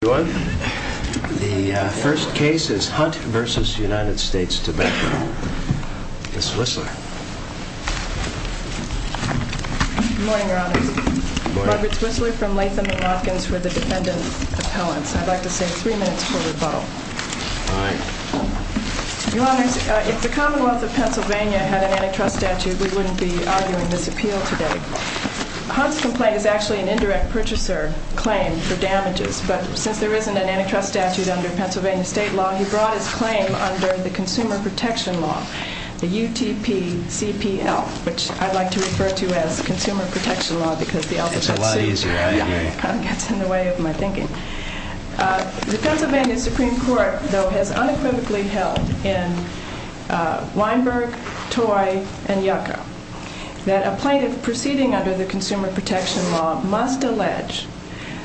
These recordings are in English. The first case is Hunt v. United States Tobacco. Ms. Swissler. Good morning, Your Honors. Robert Swissler from Latham & Hopkins for the Defendant Appellants. I'd like to save three minutes for rebuttal. Your Honors, if the Commonwealth of Pennsylvania had an antitrust statute, we wouldn't be arguing this appeal today. Hunt's complaint is actually an indirect purchaser claim for damages, but since there isn't an antitrust statute under Pennsylvania state law, he brought his claim under the Consumer Protection Law, the UTPCPL, which I'd like to refer to as Consumer Protection Law because the alphabet suits it. The Pennsylvania Supreme Court, though, has unequivocally held in Weinberg, Toy, and Yucca that a plaintiff proceeding under the Consumer Protection Law must allege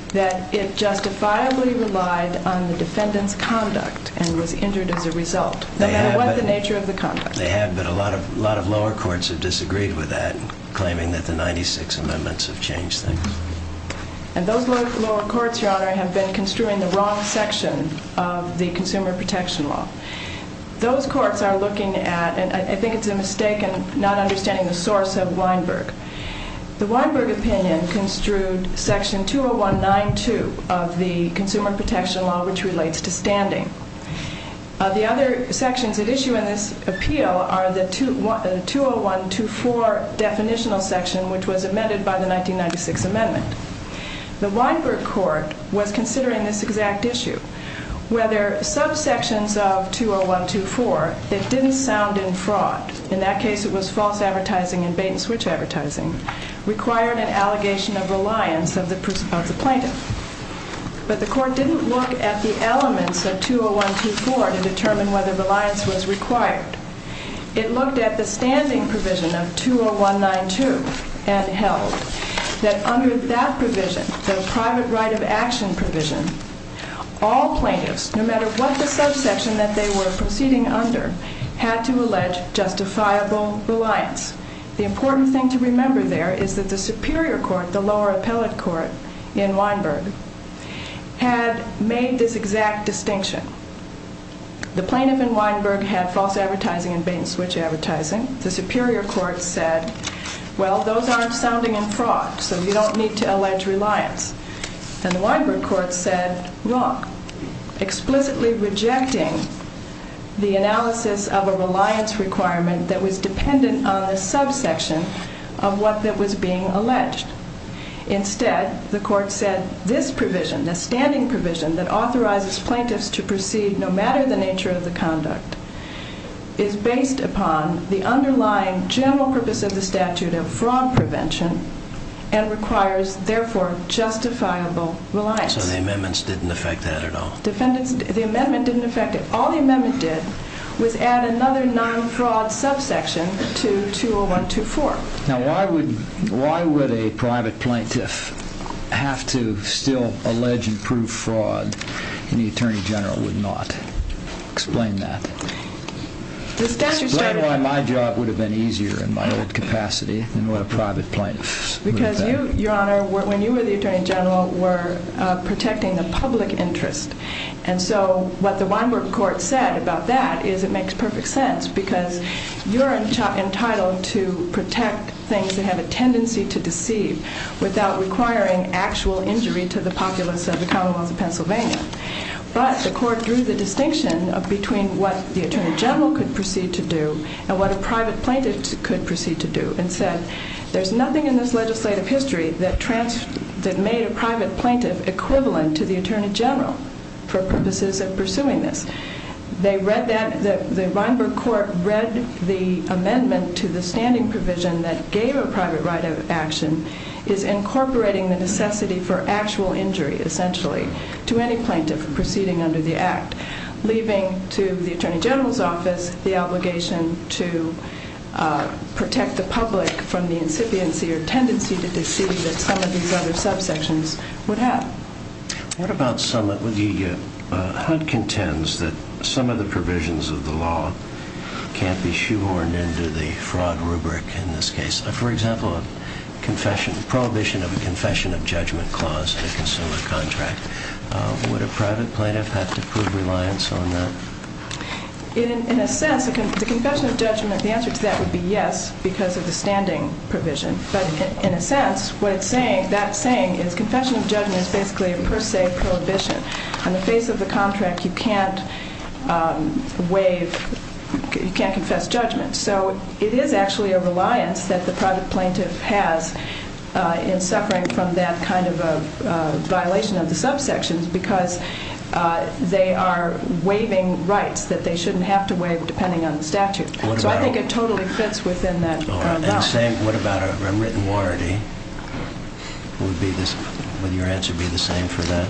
that it justifiably relied on the defendant's conduct and was injured as a result, no matter what the nature of the conduct. They have, but a lot of lower courts have disagreed with that, claiming that the 96 amendments have changed things. And those lower courts, Your Honor, have been construing the wrong section of the Consumer Protection Law. Those courts are looking at, and I think it's a mistake in not understanding the source of Weinberg. The Weinberg opinion construed Section 201.92 of the Consumer Protection Law, which relates to standing. The other sections at issue in this appeal are the 201.24 definitional section, which was amended by the 1996 amendment. The Weinberg court was considering this exact issue, whether subsections of 201.24 that didn't sound in fraud, in that case it was false advertising and bait-and-switch advertising, required an allegation of reliance of the plaintiff. But the court didn't look at the elements of 201.24 to determine whether reliance was required. It looked at the standing provision of 201.92 and held that under that provision, the private right of action provision, all plaintiffs, no matter what the subsection that they were proceeding under, had to allege justifiable reliance. The important thing to remember there is that the Superior Court, the lower appellate court in Weinberg, had made this exact distinction. The plaintiff in Weinberg had false advertising and bait-and-switch advertising. The Superior Court said, well, those aren't sounding in fraud, so you don't need to allege reliance. And the Weinberg court said, wrong, explicitly rejecting the analysis of a reliance requirement that was dependent on the subsection of what was being alleged. Instead, the court said, this provision, the standing provision that authorizes plaintiffs to proceed no matter the nature of the conduct, is based upon the underlying general purpose of the statute of fraud prevention and requires, therefore, justifiable reliance. So the amendments didn't affect that at all? The amendment didn't affect it. All the amendment did was add another non-fraud subsection to 201.24. Now, why would a private plaintiff have to still allege and prove fraud when the Attorney General would not explain that? The statute stated... Explain why my job would have been easier in my old capacity than what a private plaintiff would have done. Because you, Your Honor, when you were the Attorney General, were protecting the public interest. And so what the Weinberg court said about that is it makes perfect sense because you're entitled to protect things that have a tendency to deceive without requiring actual injury to the populace of the commonwealth of Pennsylvania. But the court drew the distinction between what the Attorney General could proceed to do and what a private plaintiff could proceed to do and said, there's nothing in this legislative history that made a private plaintiff equivalent to the Attorney General for purposes of pursuing this. The Weinberg court read the amendment to the standing provision that gave a private right of action is incorporating the necessity for actual injury, essentially, to any plaintiff proceeding under the Act, leaving to the Attorney General's office the obligation to protect the public from the incipiency or tendency to deceive that some of these other subsections would have. What about some... The HUD contends that some of the provisions of the law can't be shoehorned into the fraud rubric in this case. For example, prohibition of a confession of judgment clause in a consumer contract. Would a private plaintiff have to prove reliance on that? In a sense, the confession of judgment, the answer to that would be yes because of the standing provision. But in a sense, what it's saying, that saying is confession of judgment is basically a per se prohibition. On the face of the contract, you can't waive, you can't confess judgment. So it is actually a reliance that the private plaintiff has in suffering from that kind of a violation of the subsections because they are waiving rights that they shouldn't have to waive depending on the statute. So I think it totally fits within that. What about a written warranty? Would your answer be the same for that?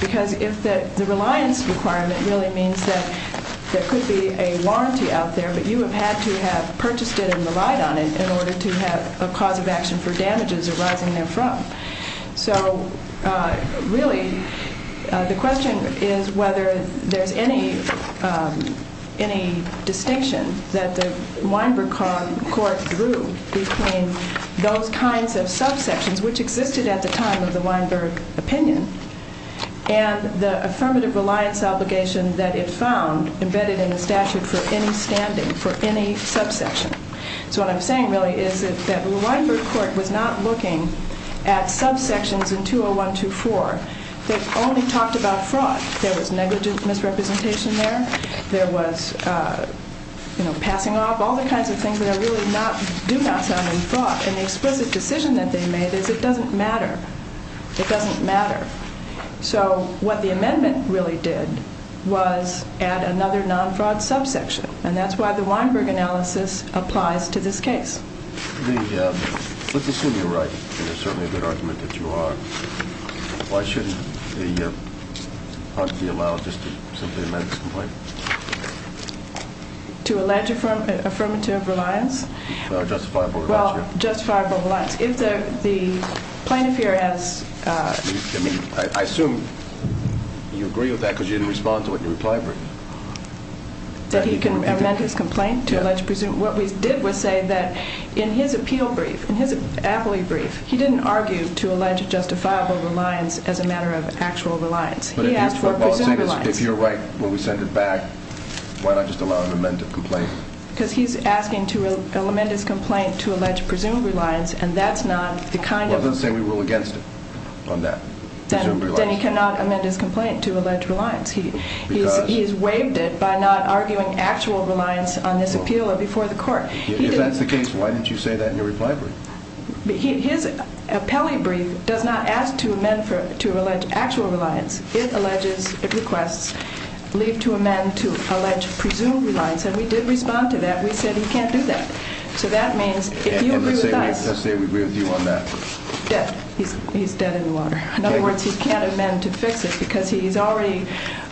Because if the reliance requirement really means that there could be a warranty out there, but you have had to have purchased it and relied on it in order to have a cause of action for damages arising therefrom. So really, the question is whether there's any distinction that the Weinberg Court drew between those kinds of subsections which existed at the time of the Weinberg opinion and the affirmative reliance obligation that it found embedded in the statute for any standing, for any subsection. So what I'm saying really is that the Weinberg Court was not looking at subsections in 20124 that only talked about fraud. There was negligent misrepresentation there. There was passing off, all the kinds of things that really do not sound like fraud. And the explicit decision that they made is it doesn't matter. It doesn't matter. So what the amendment really did was add another non-fraud subsection. And that's why the Weinberg analysis applies to this case. Let's assume you're right, and it's certainly a good argument that you are. Why shouldn't the honesty allow just to simply amend this complaint? To allege affirmative reliance? Justifiable reliance, yeah. Well, justifiable reliance. If the plaintiff here has... I mean, I assume you agree with that because you didn't respond to it in reply. That he can amend his complaint to allege presumed... What we did was say that in his appeal brief, in his appellee brief, he didn't argue to allege justifiable reliance as a matter of actual reliance. He asked for presumed reliance. If you're right when we send it back, why not just allow him to amend the complaint? Because he's asking to amend his complaint to allege presumed reliance, and that's not the kind of... Well, then say we rule against it on that. Then he cannot amend his complaint to allege reliance. He's waived it by not arguing actual reliance on this appeal before the court. If that's the case, why didn't you say that in your reply brief? His appellee brief does not ask to amend to allege actual reliance. It requests leave to amend to allege presumed reliance, and we did respond to that. We said he can't do that. So that means if you agree with us... And let's say we agree with you on that. Dead. He's dead in the water. In other words, he can't amend to fix it because he's already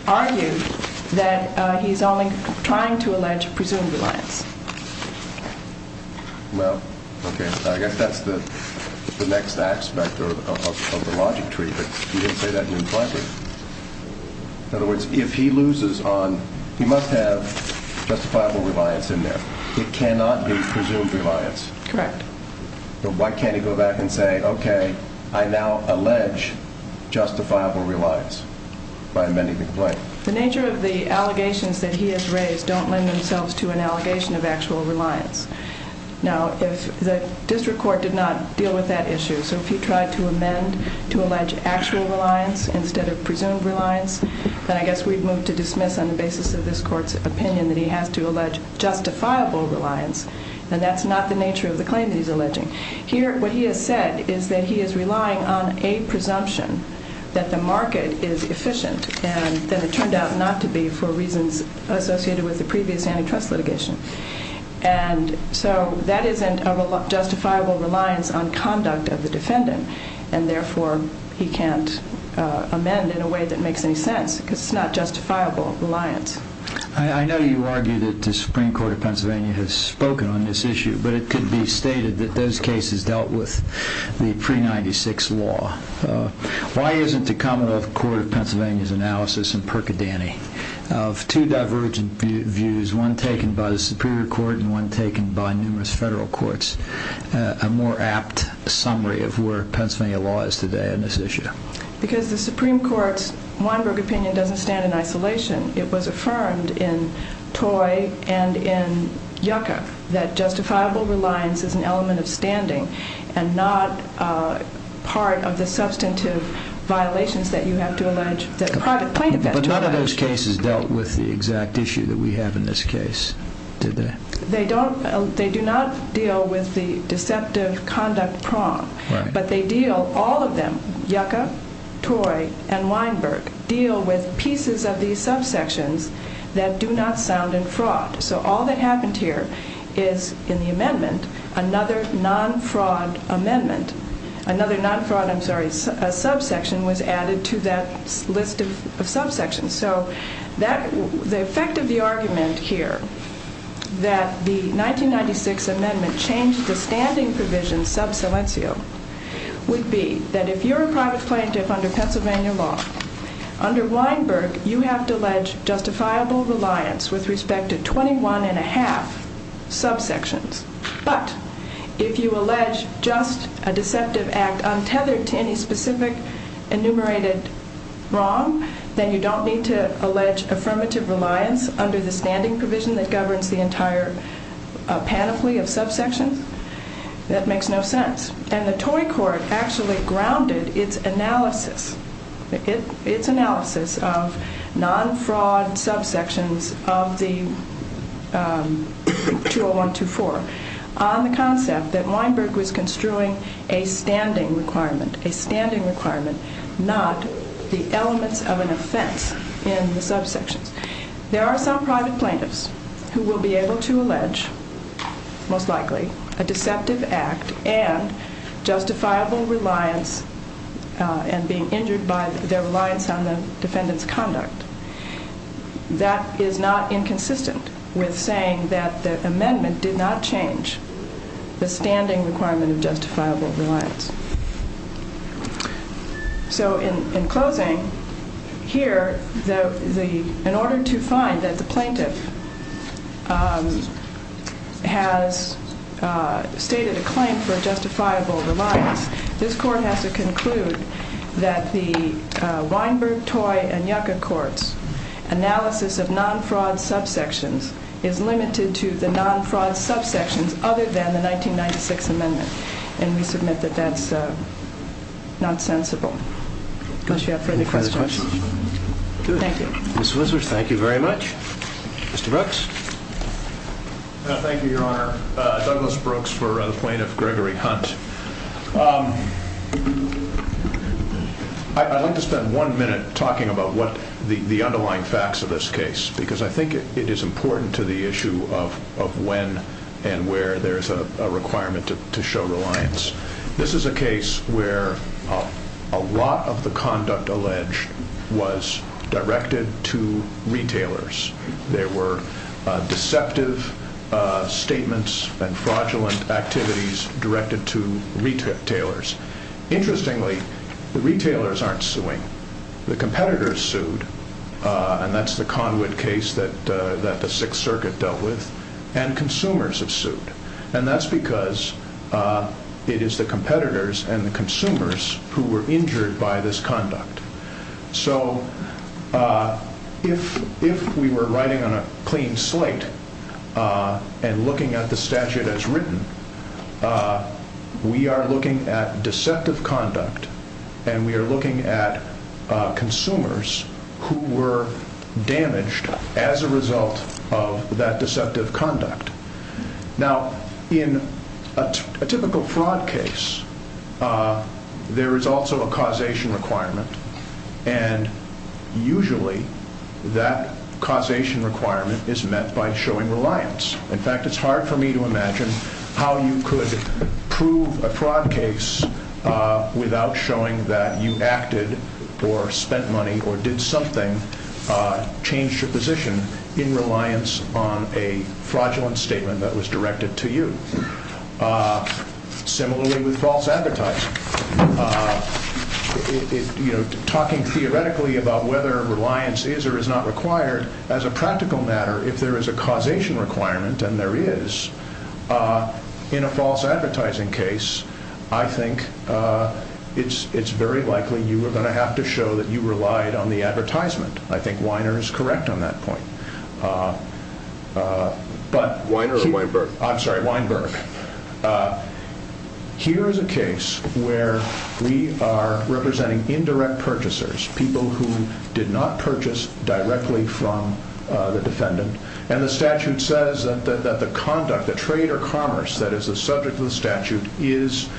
argued that he's only trying to allege presumed reliance. Well, okay, I guess that's the next aspect of the logic tree, but you didn't say that in your reply brief. In other words, if he loses on, he must have justifiable reliance in there. It cannot be presumed reliance. Correct. Why can't he go back and say, okay, I now allege justifiable reliance by amending the claim? The nature of the allegations that he has raised don't lend themselves to an allegation of actual reliance. Now, if the district court did not deal with that issue, so if he tried to amend to allege actual reliance instead of presumed reliance, then I guess we'd move to dismiss on the basis of this court's opinion that he has to allege justifiable reliance, and that's not the nature of the claim that he's alleging. Here, what he has said is that he is relying on a presumption that the market is efficient, and that it turned out not to be for reasons associated with the previous antitrust litigation. And so that isn't a justifiable reliance on conduct of the defendant, and therefore he can't amend in a way that makes any sense because it's not justifiable reliance. I know you argue that the Supreme Court of Pennsylvania has spoken on this issue, but it could be stated that those cases dealt with the pre-'96 law. Why isn't the Commonwealth Court of Pennsylvania's analysis in Percodanni of two divergent views, one taken by the Superior Court and one taken by numerous federal courts, a more apt summary of where Pennsylvania law is today on this issue? Because the Supreme Court's Weinberg opinion doesn't stand in isolation. It was affirmed in Toy and in Yucca that justifiable reliance is an element of standing and not part of the substantive violations that you have to allege that a private plaintiff has to allege. But none of those cases dealt with the exact issue that we have in this case, did they? They do not deal with the deceptive conduct prong, but they deal, all of them, Yucca, Toy, and Weinberg, deal with pieces of these subsections that do not sound in fraud. So all that happened here is in the amendment, another non-fraud amendment, another non-fraud, I'm sorry, subsection was added to that list of subsections. So the effect of the argument here that the 1996 amendment changed the standing provision sub silencio would be that if you're a private plaintiff under Pennsylvania law, under Weinberg, you have to allege justifiable reliance with respect to 21 1⁄2 subsections. But if you allege just a deceptive act untethered to any specific enumerated prong, then you don't need to allege affirmative reliance under the standing provision that governs the entire panoply of subsections. That makes no sense. And the Toy Court actually grounded its analysis, its analysis of non-fraud subsections of the 20124 on the concept that Weinberg was construing a standing requirement, a standing requirement, not the elements of an offense in the subsections. There are some private plaintiffs who will be able to allege, most likely, a deceptive act and justifiable reliance and being injured by their reliance on the defendant's conduct. That is not inconsistent with saying that the amendment did not change the standing requirement of justifiable reliance. So in closing, here, in order to find that the plaintiff has stated a claim for justifiable reliance, this Court has to conclude that the Weinberg, Toy, and Yucca Courts analysis of non-fraud subsections is limited to the non-fraud subsections other than the 1996 amendment. And we submit that that's not sensible. Unless you have further questions. Thank you. Ms. Wizards, thank you very much. Mr. Brooks? Thank you, Your Honor. Douglas Brooks for the plaintiff, Gregory Hunt. I'd like to spend one minute talking about what the underlying facts of this case, because I think it is important to the issue of when and where there's a requirement to show reliance. This is a case where a lot of the conduct alleged was directed to retailers. There were deceptive statements and fraudulent activities directed to retailers. Interestingly, the retailers aren't suing. The competitors sued, and that's the Conwood case that the Sixth Circuit dealt with, and consumers have sued. And that's because it is the competitors and the consumers who were injured by this conduct. So if we were writing on a clean slate and looking at the statute as written, we are looking at deceptive conduct and we are looking at consumers who were damaged as a result of that deceptive conduct. Now, in a typical fraud case, there is also a causation requirement, and usually that causation requirement is met by showing reliance. In fact, it's hard for me to imagine how you could prove a fraud case without showing that you acted or spent money or did something, changed your position, in reliance on a fraudulent statement that was directed to you. Similarly with false advertising. Talking theoretically about whether reliance is or is not required, as a practical matter, if there is a causation requirement, and there is, in a false advertising case, I think it's very likely you are going to have to show that you relied on the advertisement. I think Weiner is correct on that point. Weiner or Weinberg? I'm sorry, Weinberg. Here is a case where we are representing indirect purchasers, people who did not purchase directly from the defendant, and the statute says that the conduct, the trade or commerce that is the subject of the statute, is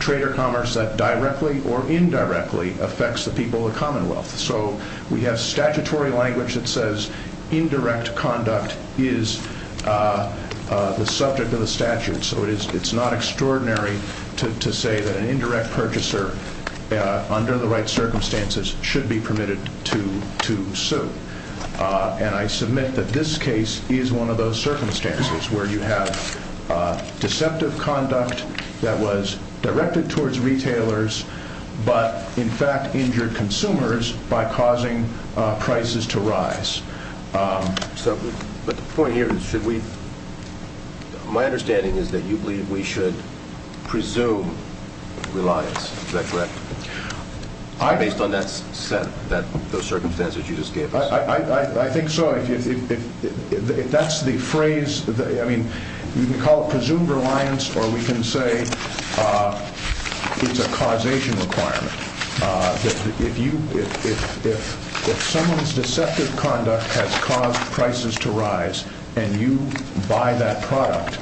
trade or commerce that directly or indirectly affects the people of the Commonwealth. So we have statutory language that says indirect conduct is the subject of the statute. So it's not extraordinary to say that an indirect purchaser, under the right circumstances, should be permitted to sue. And I submit that this case is one of those circumstances where you have deceptive conduct that was directed towards retailers but, in fact, injured consumers by causing prices to rise. But the point here is, my understanding is that you believe we should presume reliance. Is that correct? Based on those circumstances you just gave us. I think so. That's the phrase. You can call it presumed reliance or we can say it's a causation requirement. If someone's deceptive conduct has caused prices to rise and you buy that product,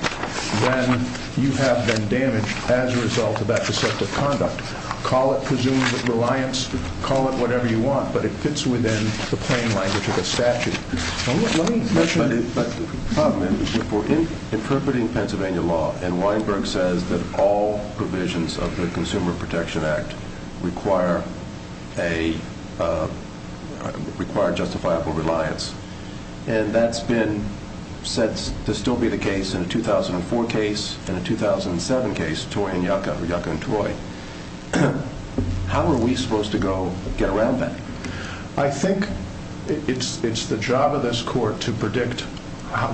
then you have been damaged as a result of that deceptive conduct. Call it presumed reliance, call it whatever you want, but it fits within the plain language of the statute. But the problem is we're interpreting Pennsylvania law and Weinberg says that all provisions of the Consumer Protection Act require justifiable reliance. And that's been said to still be the case in a 2004 case and a 2007 case, Toy and Yucca, Yucca and Toy. How are we supposed to go get around that? I think it's the job of this court to predict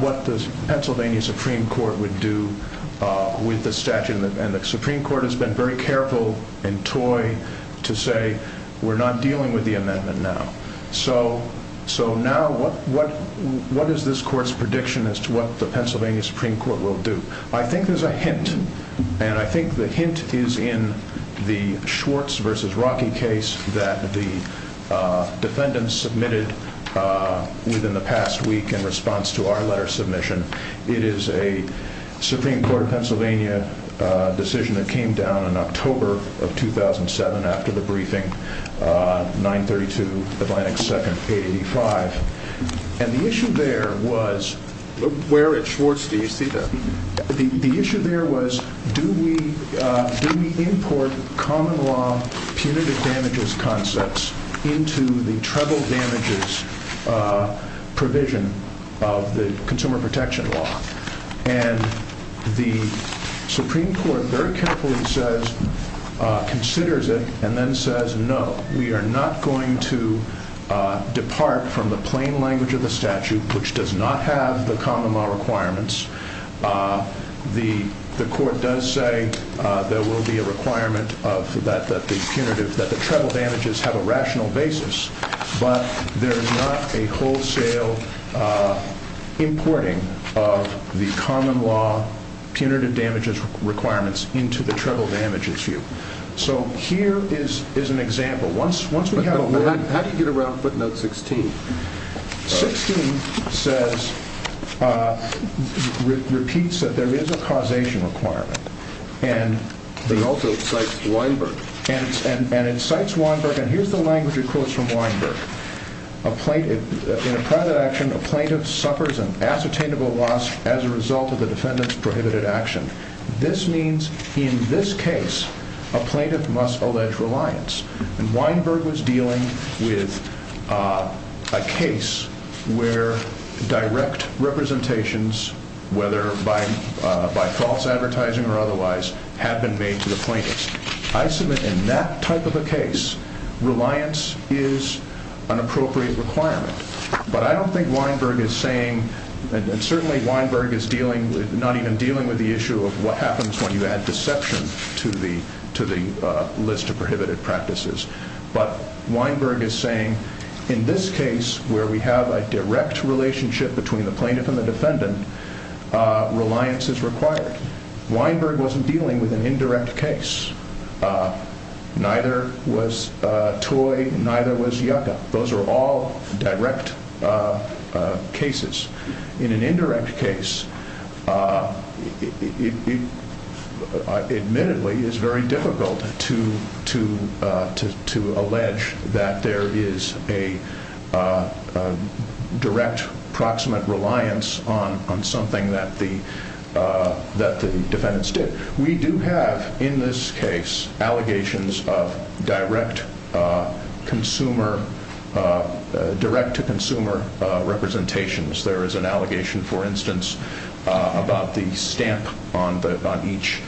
what the Pennsylvania Supreme Court would do with the statute. And the Supreme Court has been very careful in Toy to say we're not dealing with the amendment now. So now what is this court's prediction as to what the Pennsylvania Supreme Court will do? I think there's a hint. And I think the hint is in the Schwartz v. Rocky case that the defendants submitted within the past week in response to our letter submission. It is a Supreme Court of Pennsylvania decision that came down in October of 2007 after the briefing, 932 Atlantic 2nd, 885. And the issue there was where at Schwartz do you see that? The issue there was do we import common law punitive damages concepts into the treble damages provision of the Consumer Protection Law? And the Supreme Court very carefully says, considers it and then says no. We are not going to depart from the plain language of the statute which does not have the common law requirements. The court does say there will be a requirement that the punitive, that the treble damages have a rational basis. But there is not a wholesale importing of the common law punitive damages requirements into the treble damages view. So here is an example. How do you get around footnote 16? 16 says, repeats that there is a causation requirement. And it also cites Weinberg. And it cites Weinberg. And here is the language it quotes from Weinberg. In a private action, a plaintiff suffers an ascertainable loss as a result of the defendant's prohibited action. This means in this case a plaintiff must allege reliance. And Weinberg was dealing with a case where direct representations, whether by false advertising or otherwise, have been made to the plaintiffs. I submit in that type of a case, reliance is an appropriate requirement. But I don't think Weinberg is saying, and certainly Weinberg is not even dealing with the issue of what happens when you add deception to the list of prohibited practices. But Weinberg is saying in this case where we have a direct relationship between the plaintiff and the defendant, reliance is required. Weinberg wasn't dealing with an indirect case. Neither was Toy. Neither was Yucca. Those are all direct cases. In an indirect case, it admittedly is very difficult to allege that there is a direct, proximate reliance on something that the defendants did. We do have in this case allegations of direct consumer, direct to consumer representations. There is an allegation, for instance, about the stamp on each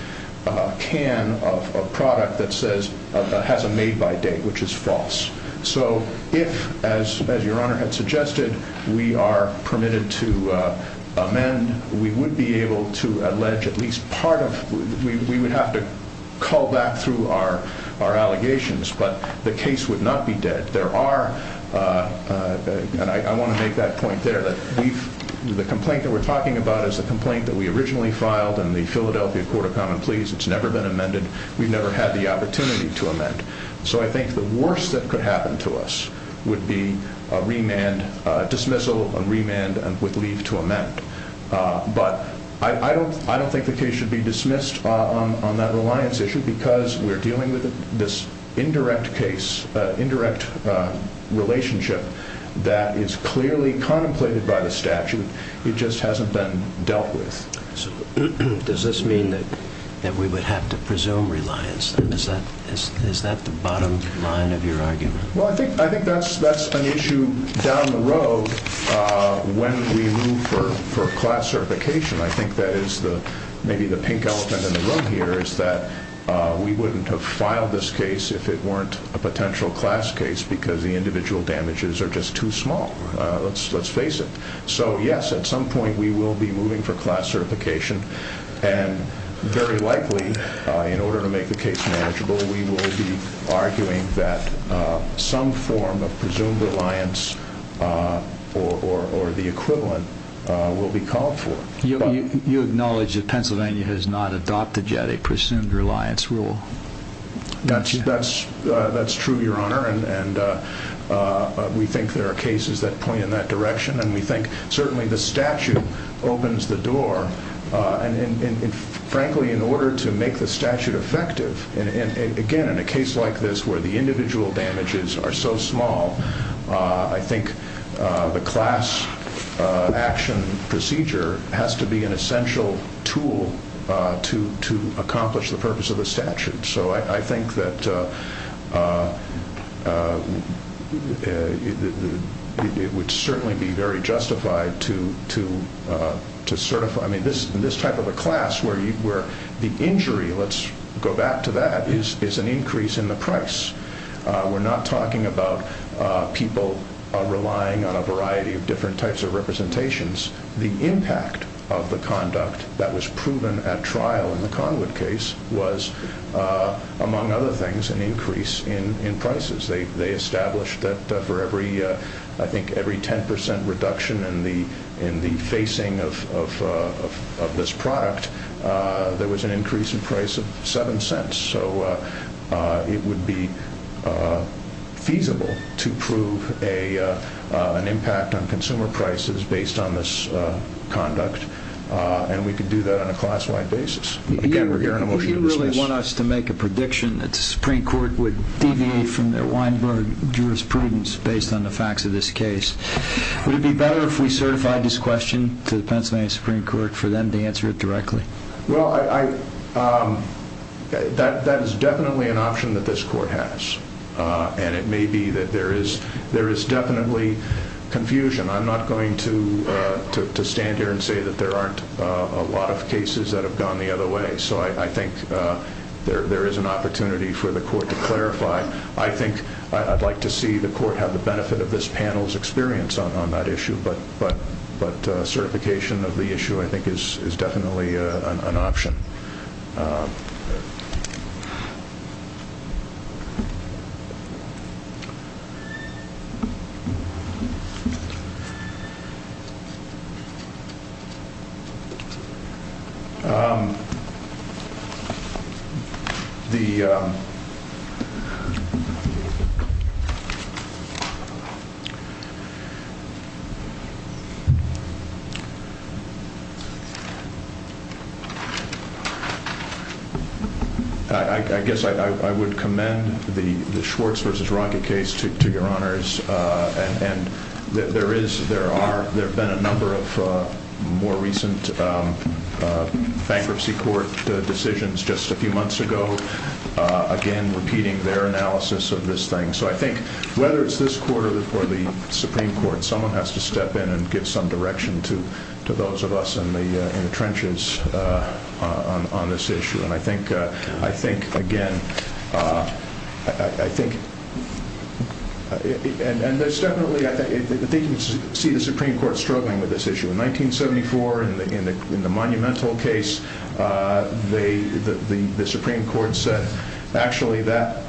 can of a product that says, has a made by date, which is false. So if, as your Honor had suggested, we are permitted to amend, we would be able to allege at least part of, we would have to call back through our allegations. But the case would not be dead. There are, and I want to make that point there, that the complaint that we're talking about is a complaint that we originally filed in the Philadelphia Court of Common Pleas. It's never been amended. We've never had the opportunity to amend. So I think the worst that could happen to us would be a remand, a dismissal, a remand with leave to amend. But I don't think the case should be dismissed on that reliance issue because we're dealing with this indirect case, indirect relationship that is clearly contemplated by the statute. It just hasn't been dealt with. So does this mean that we would have to presume reliance? Is that the bottom line of your argument? Well, I think that's an issue down the road when we move for class certification. I think that is maybe the pink elephant in the room here is that we wouldn't have filed this case if it weren't a potential class case because the individual damages are just too small. Let's face it. So, yes, at some point we will be moving for class certification. And very likely, in order to make the case manageable, we will be arguing that some form of presumed reliance or the equivalent will be called for. You acknowledge that Pennsylvania has not adopted yet a presumed reliance rule. That's true, Your Honor. And we think there are cases that point in that direction. And we think certainly the statute opens the door. And, frankly, in order to make the statute effective, again, in a case like this where the individual damages are so small, I think the class action procedure has to be an essential tool to accomplish the purpose of the statute. So I think that it would certainly be very justified to certify. I mean, this type of a class where the injury, let's go back to that, is an increase in the price. We're not talking about people relying on a variety of different types of representations. The impact of the conduct that was proven at trial in the Conwood case was, among other things, an increase in prices. They established that for every, I think, every 10 percent reduction in the facing of this product, there was an increase in price of 7 cents. So it would be feasible to prove an impact on consumer prices based on this conduct. And we could do that on a class-wide basis. You really want us to make a prediction that the Supreme Court would deviate from their Weinberg jurisprudence based on the facts of this case. Would it be better if we certified this question to the Pennsylvania Supreme Court for them to answer it directly? Well, that is definitely an option that this court has. And it may be that there is definitely confusion. I'm not going to stand here and say that there aren't a lot of cases that have gone the other way. So I think there is an opportunity for the court to clarify. I think I'd like to see the court have the benefit of this panel's experience on that issue. But certification of the issue, I think, is definitely an option. I guess I would commend the Schwartz v. Rocket case to Your Honors. There have been a number of more recent bankruptcy court decisions just a few months ago, again, repeating their analysis of this thing. So I think whether it's this court or the Supreme Court, someone has to step in and give some direction to those of us in the trenches on this issue. And I think, again, I think you can see the Supreme Court struggling with this issue. In 1974, in the Monumental case, the Supreme Court said, actually, that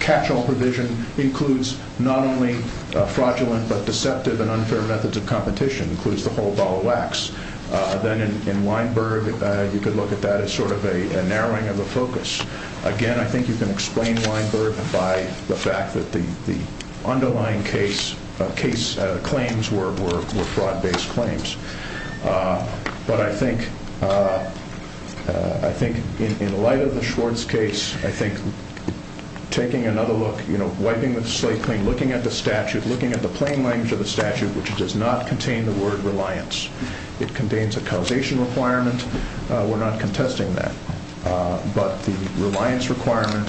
catch-all provision includes not only fraudulent but deceptive and unfair methods of competition. It includes the whole ball of wax. Then in Weinberg, you could look at that as sort of a narrowing of the focus. Again, I think you can explain Weinberg by the fact that the underlying case claims were fraud-based claims. But I think in light of the Schwartz case, I think taking another look, wiping the slate clean, looking at the statute, looking at the plain language of the statute, which does not contain the word reliance. It contains a causation requirement. We're not contesting that. But the reliance requirement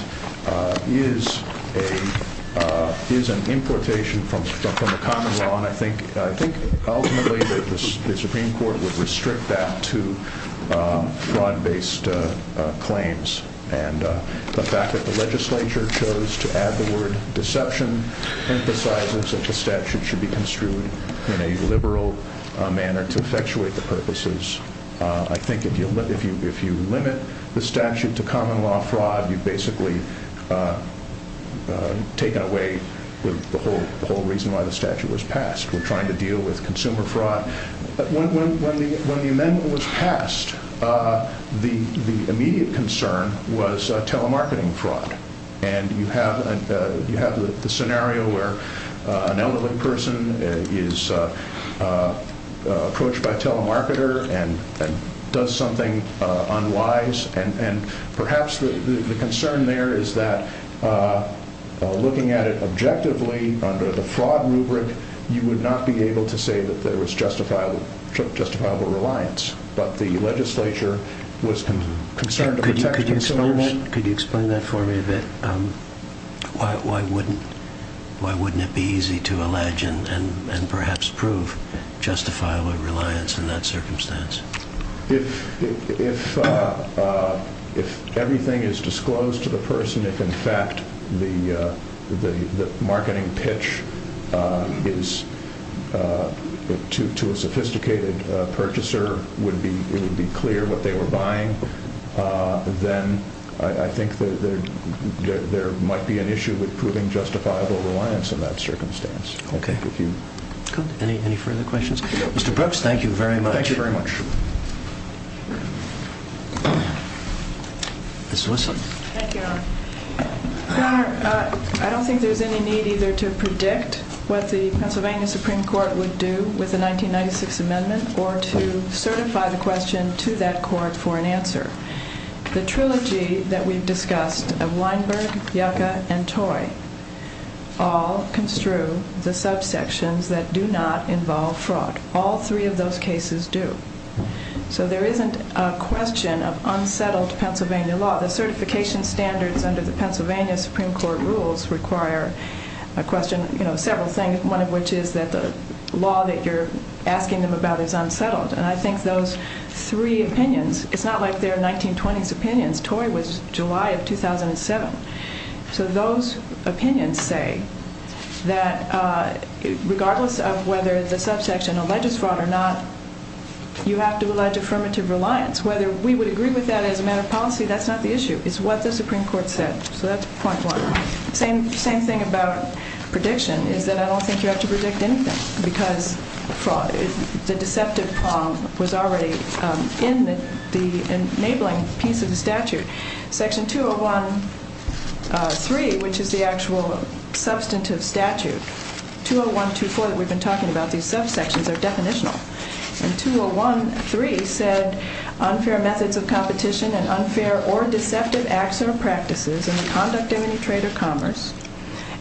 is an importation from the common law. And I think ultimately the Supreme Court would restrict that to fraud-based claims. And the fact that the legislature chose to add the word deception emphasizes that the statute should be construed in a liberal manner to effectuate the purposes. I think if you limit the statute to common law fraud, you've basically taken away the whole reason why the statute was passed. We're trying to deal with consumer fraud. When the amendment was passed, the immediate concern was telemarketing fraud. And you have the scenario where an elderly person is approached by a telemarketer and does something unwise. And perhaps the concern there is that looking at it objectively under the fraud rubric, you would not be able to say that there was justifiable reliance. But the legislature was concerned to protect consumers. Could you explain that for me a bit? Why wouldn't it be easy to allege and perhaps prove justifiable reliance in that circumstance? If everything is disclosed to the person, if in fact the marketing pitch to a sophisticated purchaser would be clear what they were buying, then I think there might be an issue with proving justifiable reliance in that circumstance. Any further questions? Mr. Brooks, thank you very much. Ms. Wilson. Thank you, Your Honor. Your Honor, I don't think there's any need either to predict what the Pennsylvania Supreme Court would do with the 1996 amendment or to certify the question to that court for an answer. The trilogy that we've discussed of Weinberg, Yucca, and Toy all construe the subsections that do not involve fraud. All three of those cases do. So there isn't a question of unsettled Pennsylvania law. The certification standards under the Pennsylvania Supreme Court rules require a question of several things, one of which is that the law that you're asking them about is unsettled. And I think those three opinions, it's not like they're 1920s opinions. Toy was July of 2007. So those opinions say that regardless of whether the subsection alleges fraud or not, you have to allege affirmative reliance. Whether we would agree with that as a matter of policy, that's not the issue. It's what the Supreme Court said. So that's point one. Same thing about prediction is that I don't think you have to predict anything because the deceptive problem was already in the enabling piece of the statute. Section 201.3, which is the actual substantive statute, 201.2.4 that we've been talking about, these subsections are definitional. And 201.3 said unfair methods of competition and unfair or deceptive acts or practices in the conduct of any trade or commerce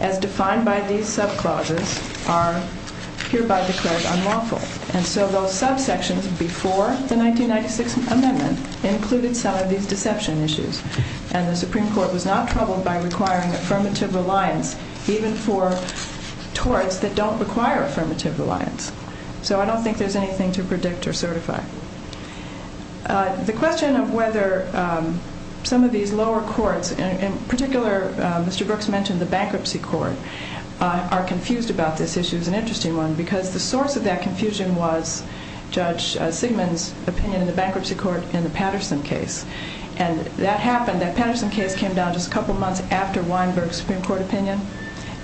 as defined by these subclauses are hereby declared unlawful. And so those subsections before the 1996 amendment included some of these deception issues. And the Supreme Court was not troubled by requiring affirmative reliance even for torts that don't require affirmative reliance. So I don't think there's anything to predict or certify. The question of whether some of these lower courts, in particular Mr. Brooks mentioned the bankruptcy court, are confused about this issue is an interesting one because the source of that confusion was Judge Sigmund's opinion in the bankruptcy court in the Patterson case. And that happened, that Patterson case came down just a couple months after Weinberg's Supreme Court opinion.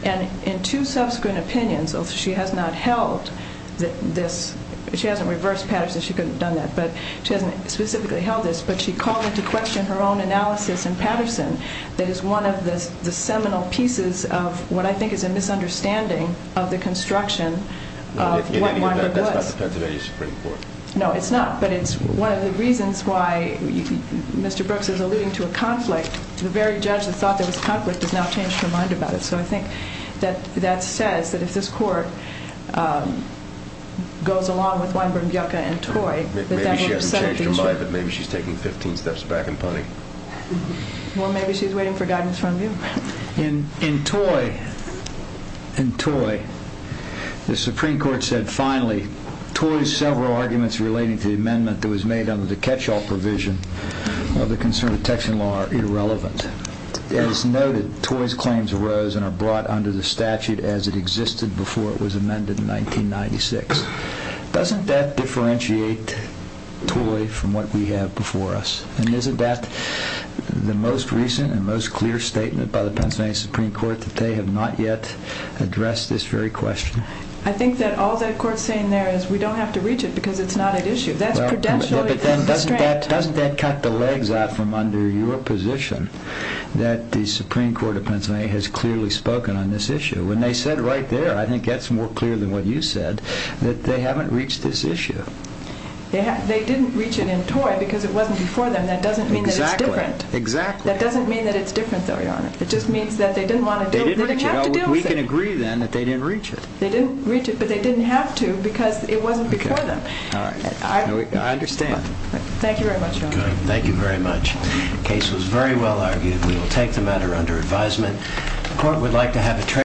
And in two subsequent opinions, although she has not held this, she hasn't reversed Patterson, she couldn't have done that, but she hasn't specifically held this, but she called into question her own analysis in Patterson that is one of the seminal pieces of what I think is a misunderstanding of the construction of what Weinberg was. That's not the Pennsylvania Supreme Court. No, it's not, but it's one of the reasons why Mr. Brooks is alluding to a conflict. The very judge that thought there was a conflict has now changed her mind about it. So I think that says that if this court goes along with Weinberg, Gielke, and Toy, that that would upset the issue. Maybe she hasn't changed her mind, but maybe she's taking 15 steps back and punning. Well, maybe she's waiting for guidance from you. In Toy, the Supreme Court said finally, Toy's several arguments relating to the amendment that was made under the catch-all provision of the Consumer Protection Law are irrelevant. As noted, Toy's claims arose and are brought under the statute as it existed before it was amended in 1996. Doesn't that differentiate Toy from what we have before us? And isn't that the most recent and most clear statement by the Pennsylvania Supreme Court that they have not yet addressed this very question? I think that all that court's saying there is we don't have to reach it because it's not at issue. That's prudentially a distract. Doesn't that cut the legs out from under your position that the Supreme Court of Pennsylvania has clearly spoken on this issue? When they said right there, I think that's more clear than what you said, that they haven't reached this issue. They didn't reach it in Toy because it wasn't before them. That doesn't mean that it's different. Exactly. That doesn't mean that it's different, though, Your Honor. It just means that they didn't want to deal with it. They didn't have to deal with it. We can agree, then, that they didn't reach it. They didn't reach it, but they didn't have to because it wasn't before them. I understand. Thank you very much, Your Honor. Thank you very much. The case was very well argued. We will take the matter under advisement.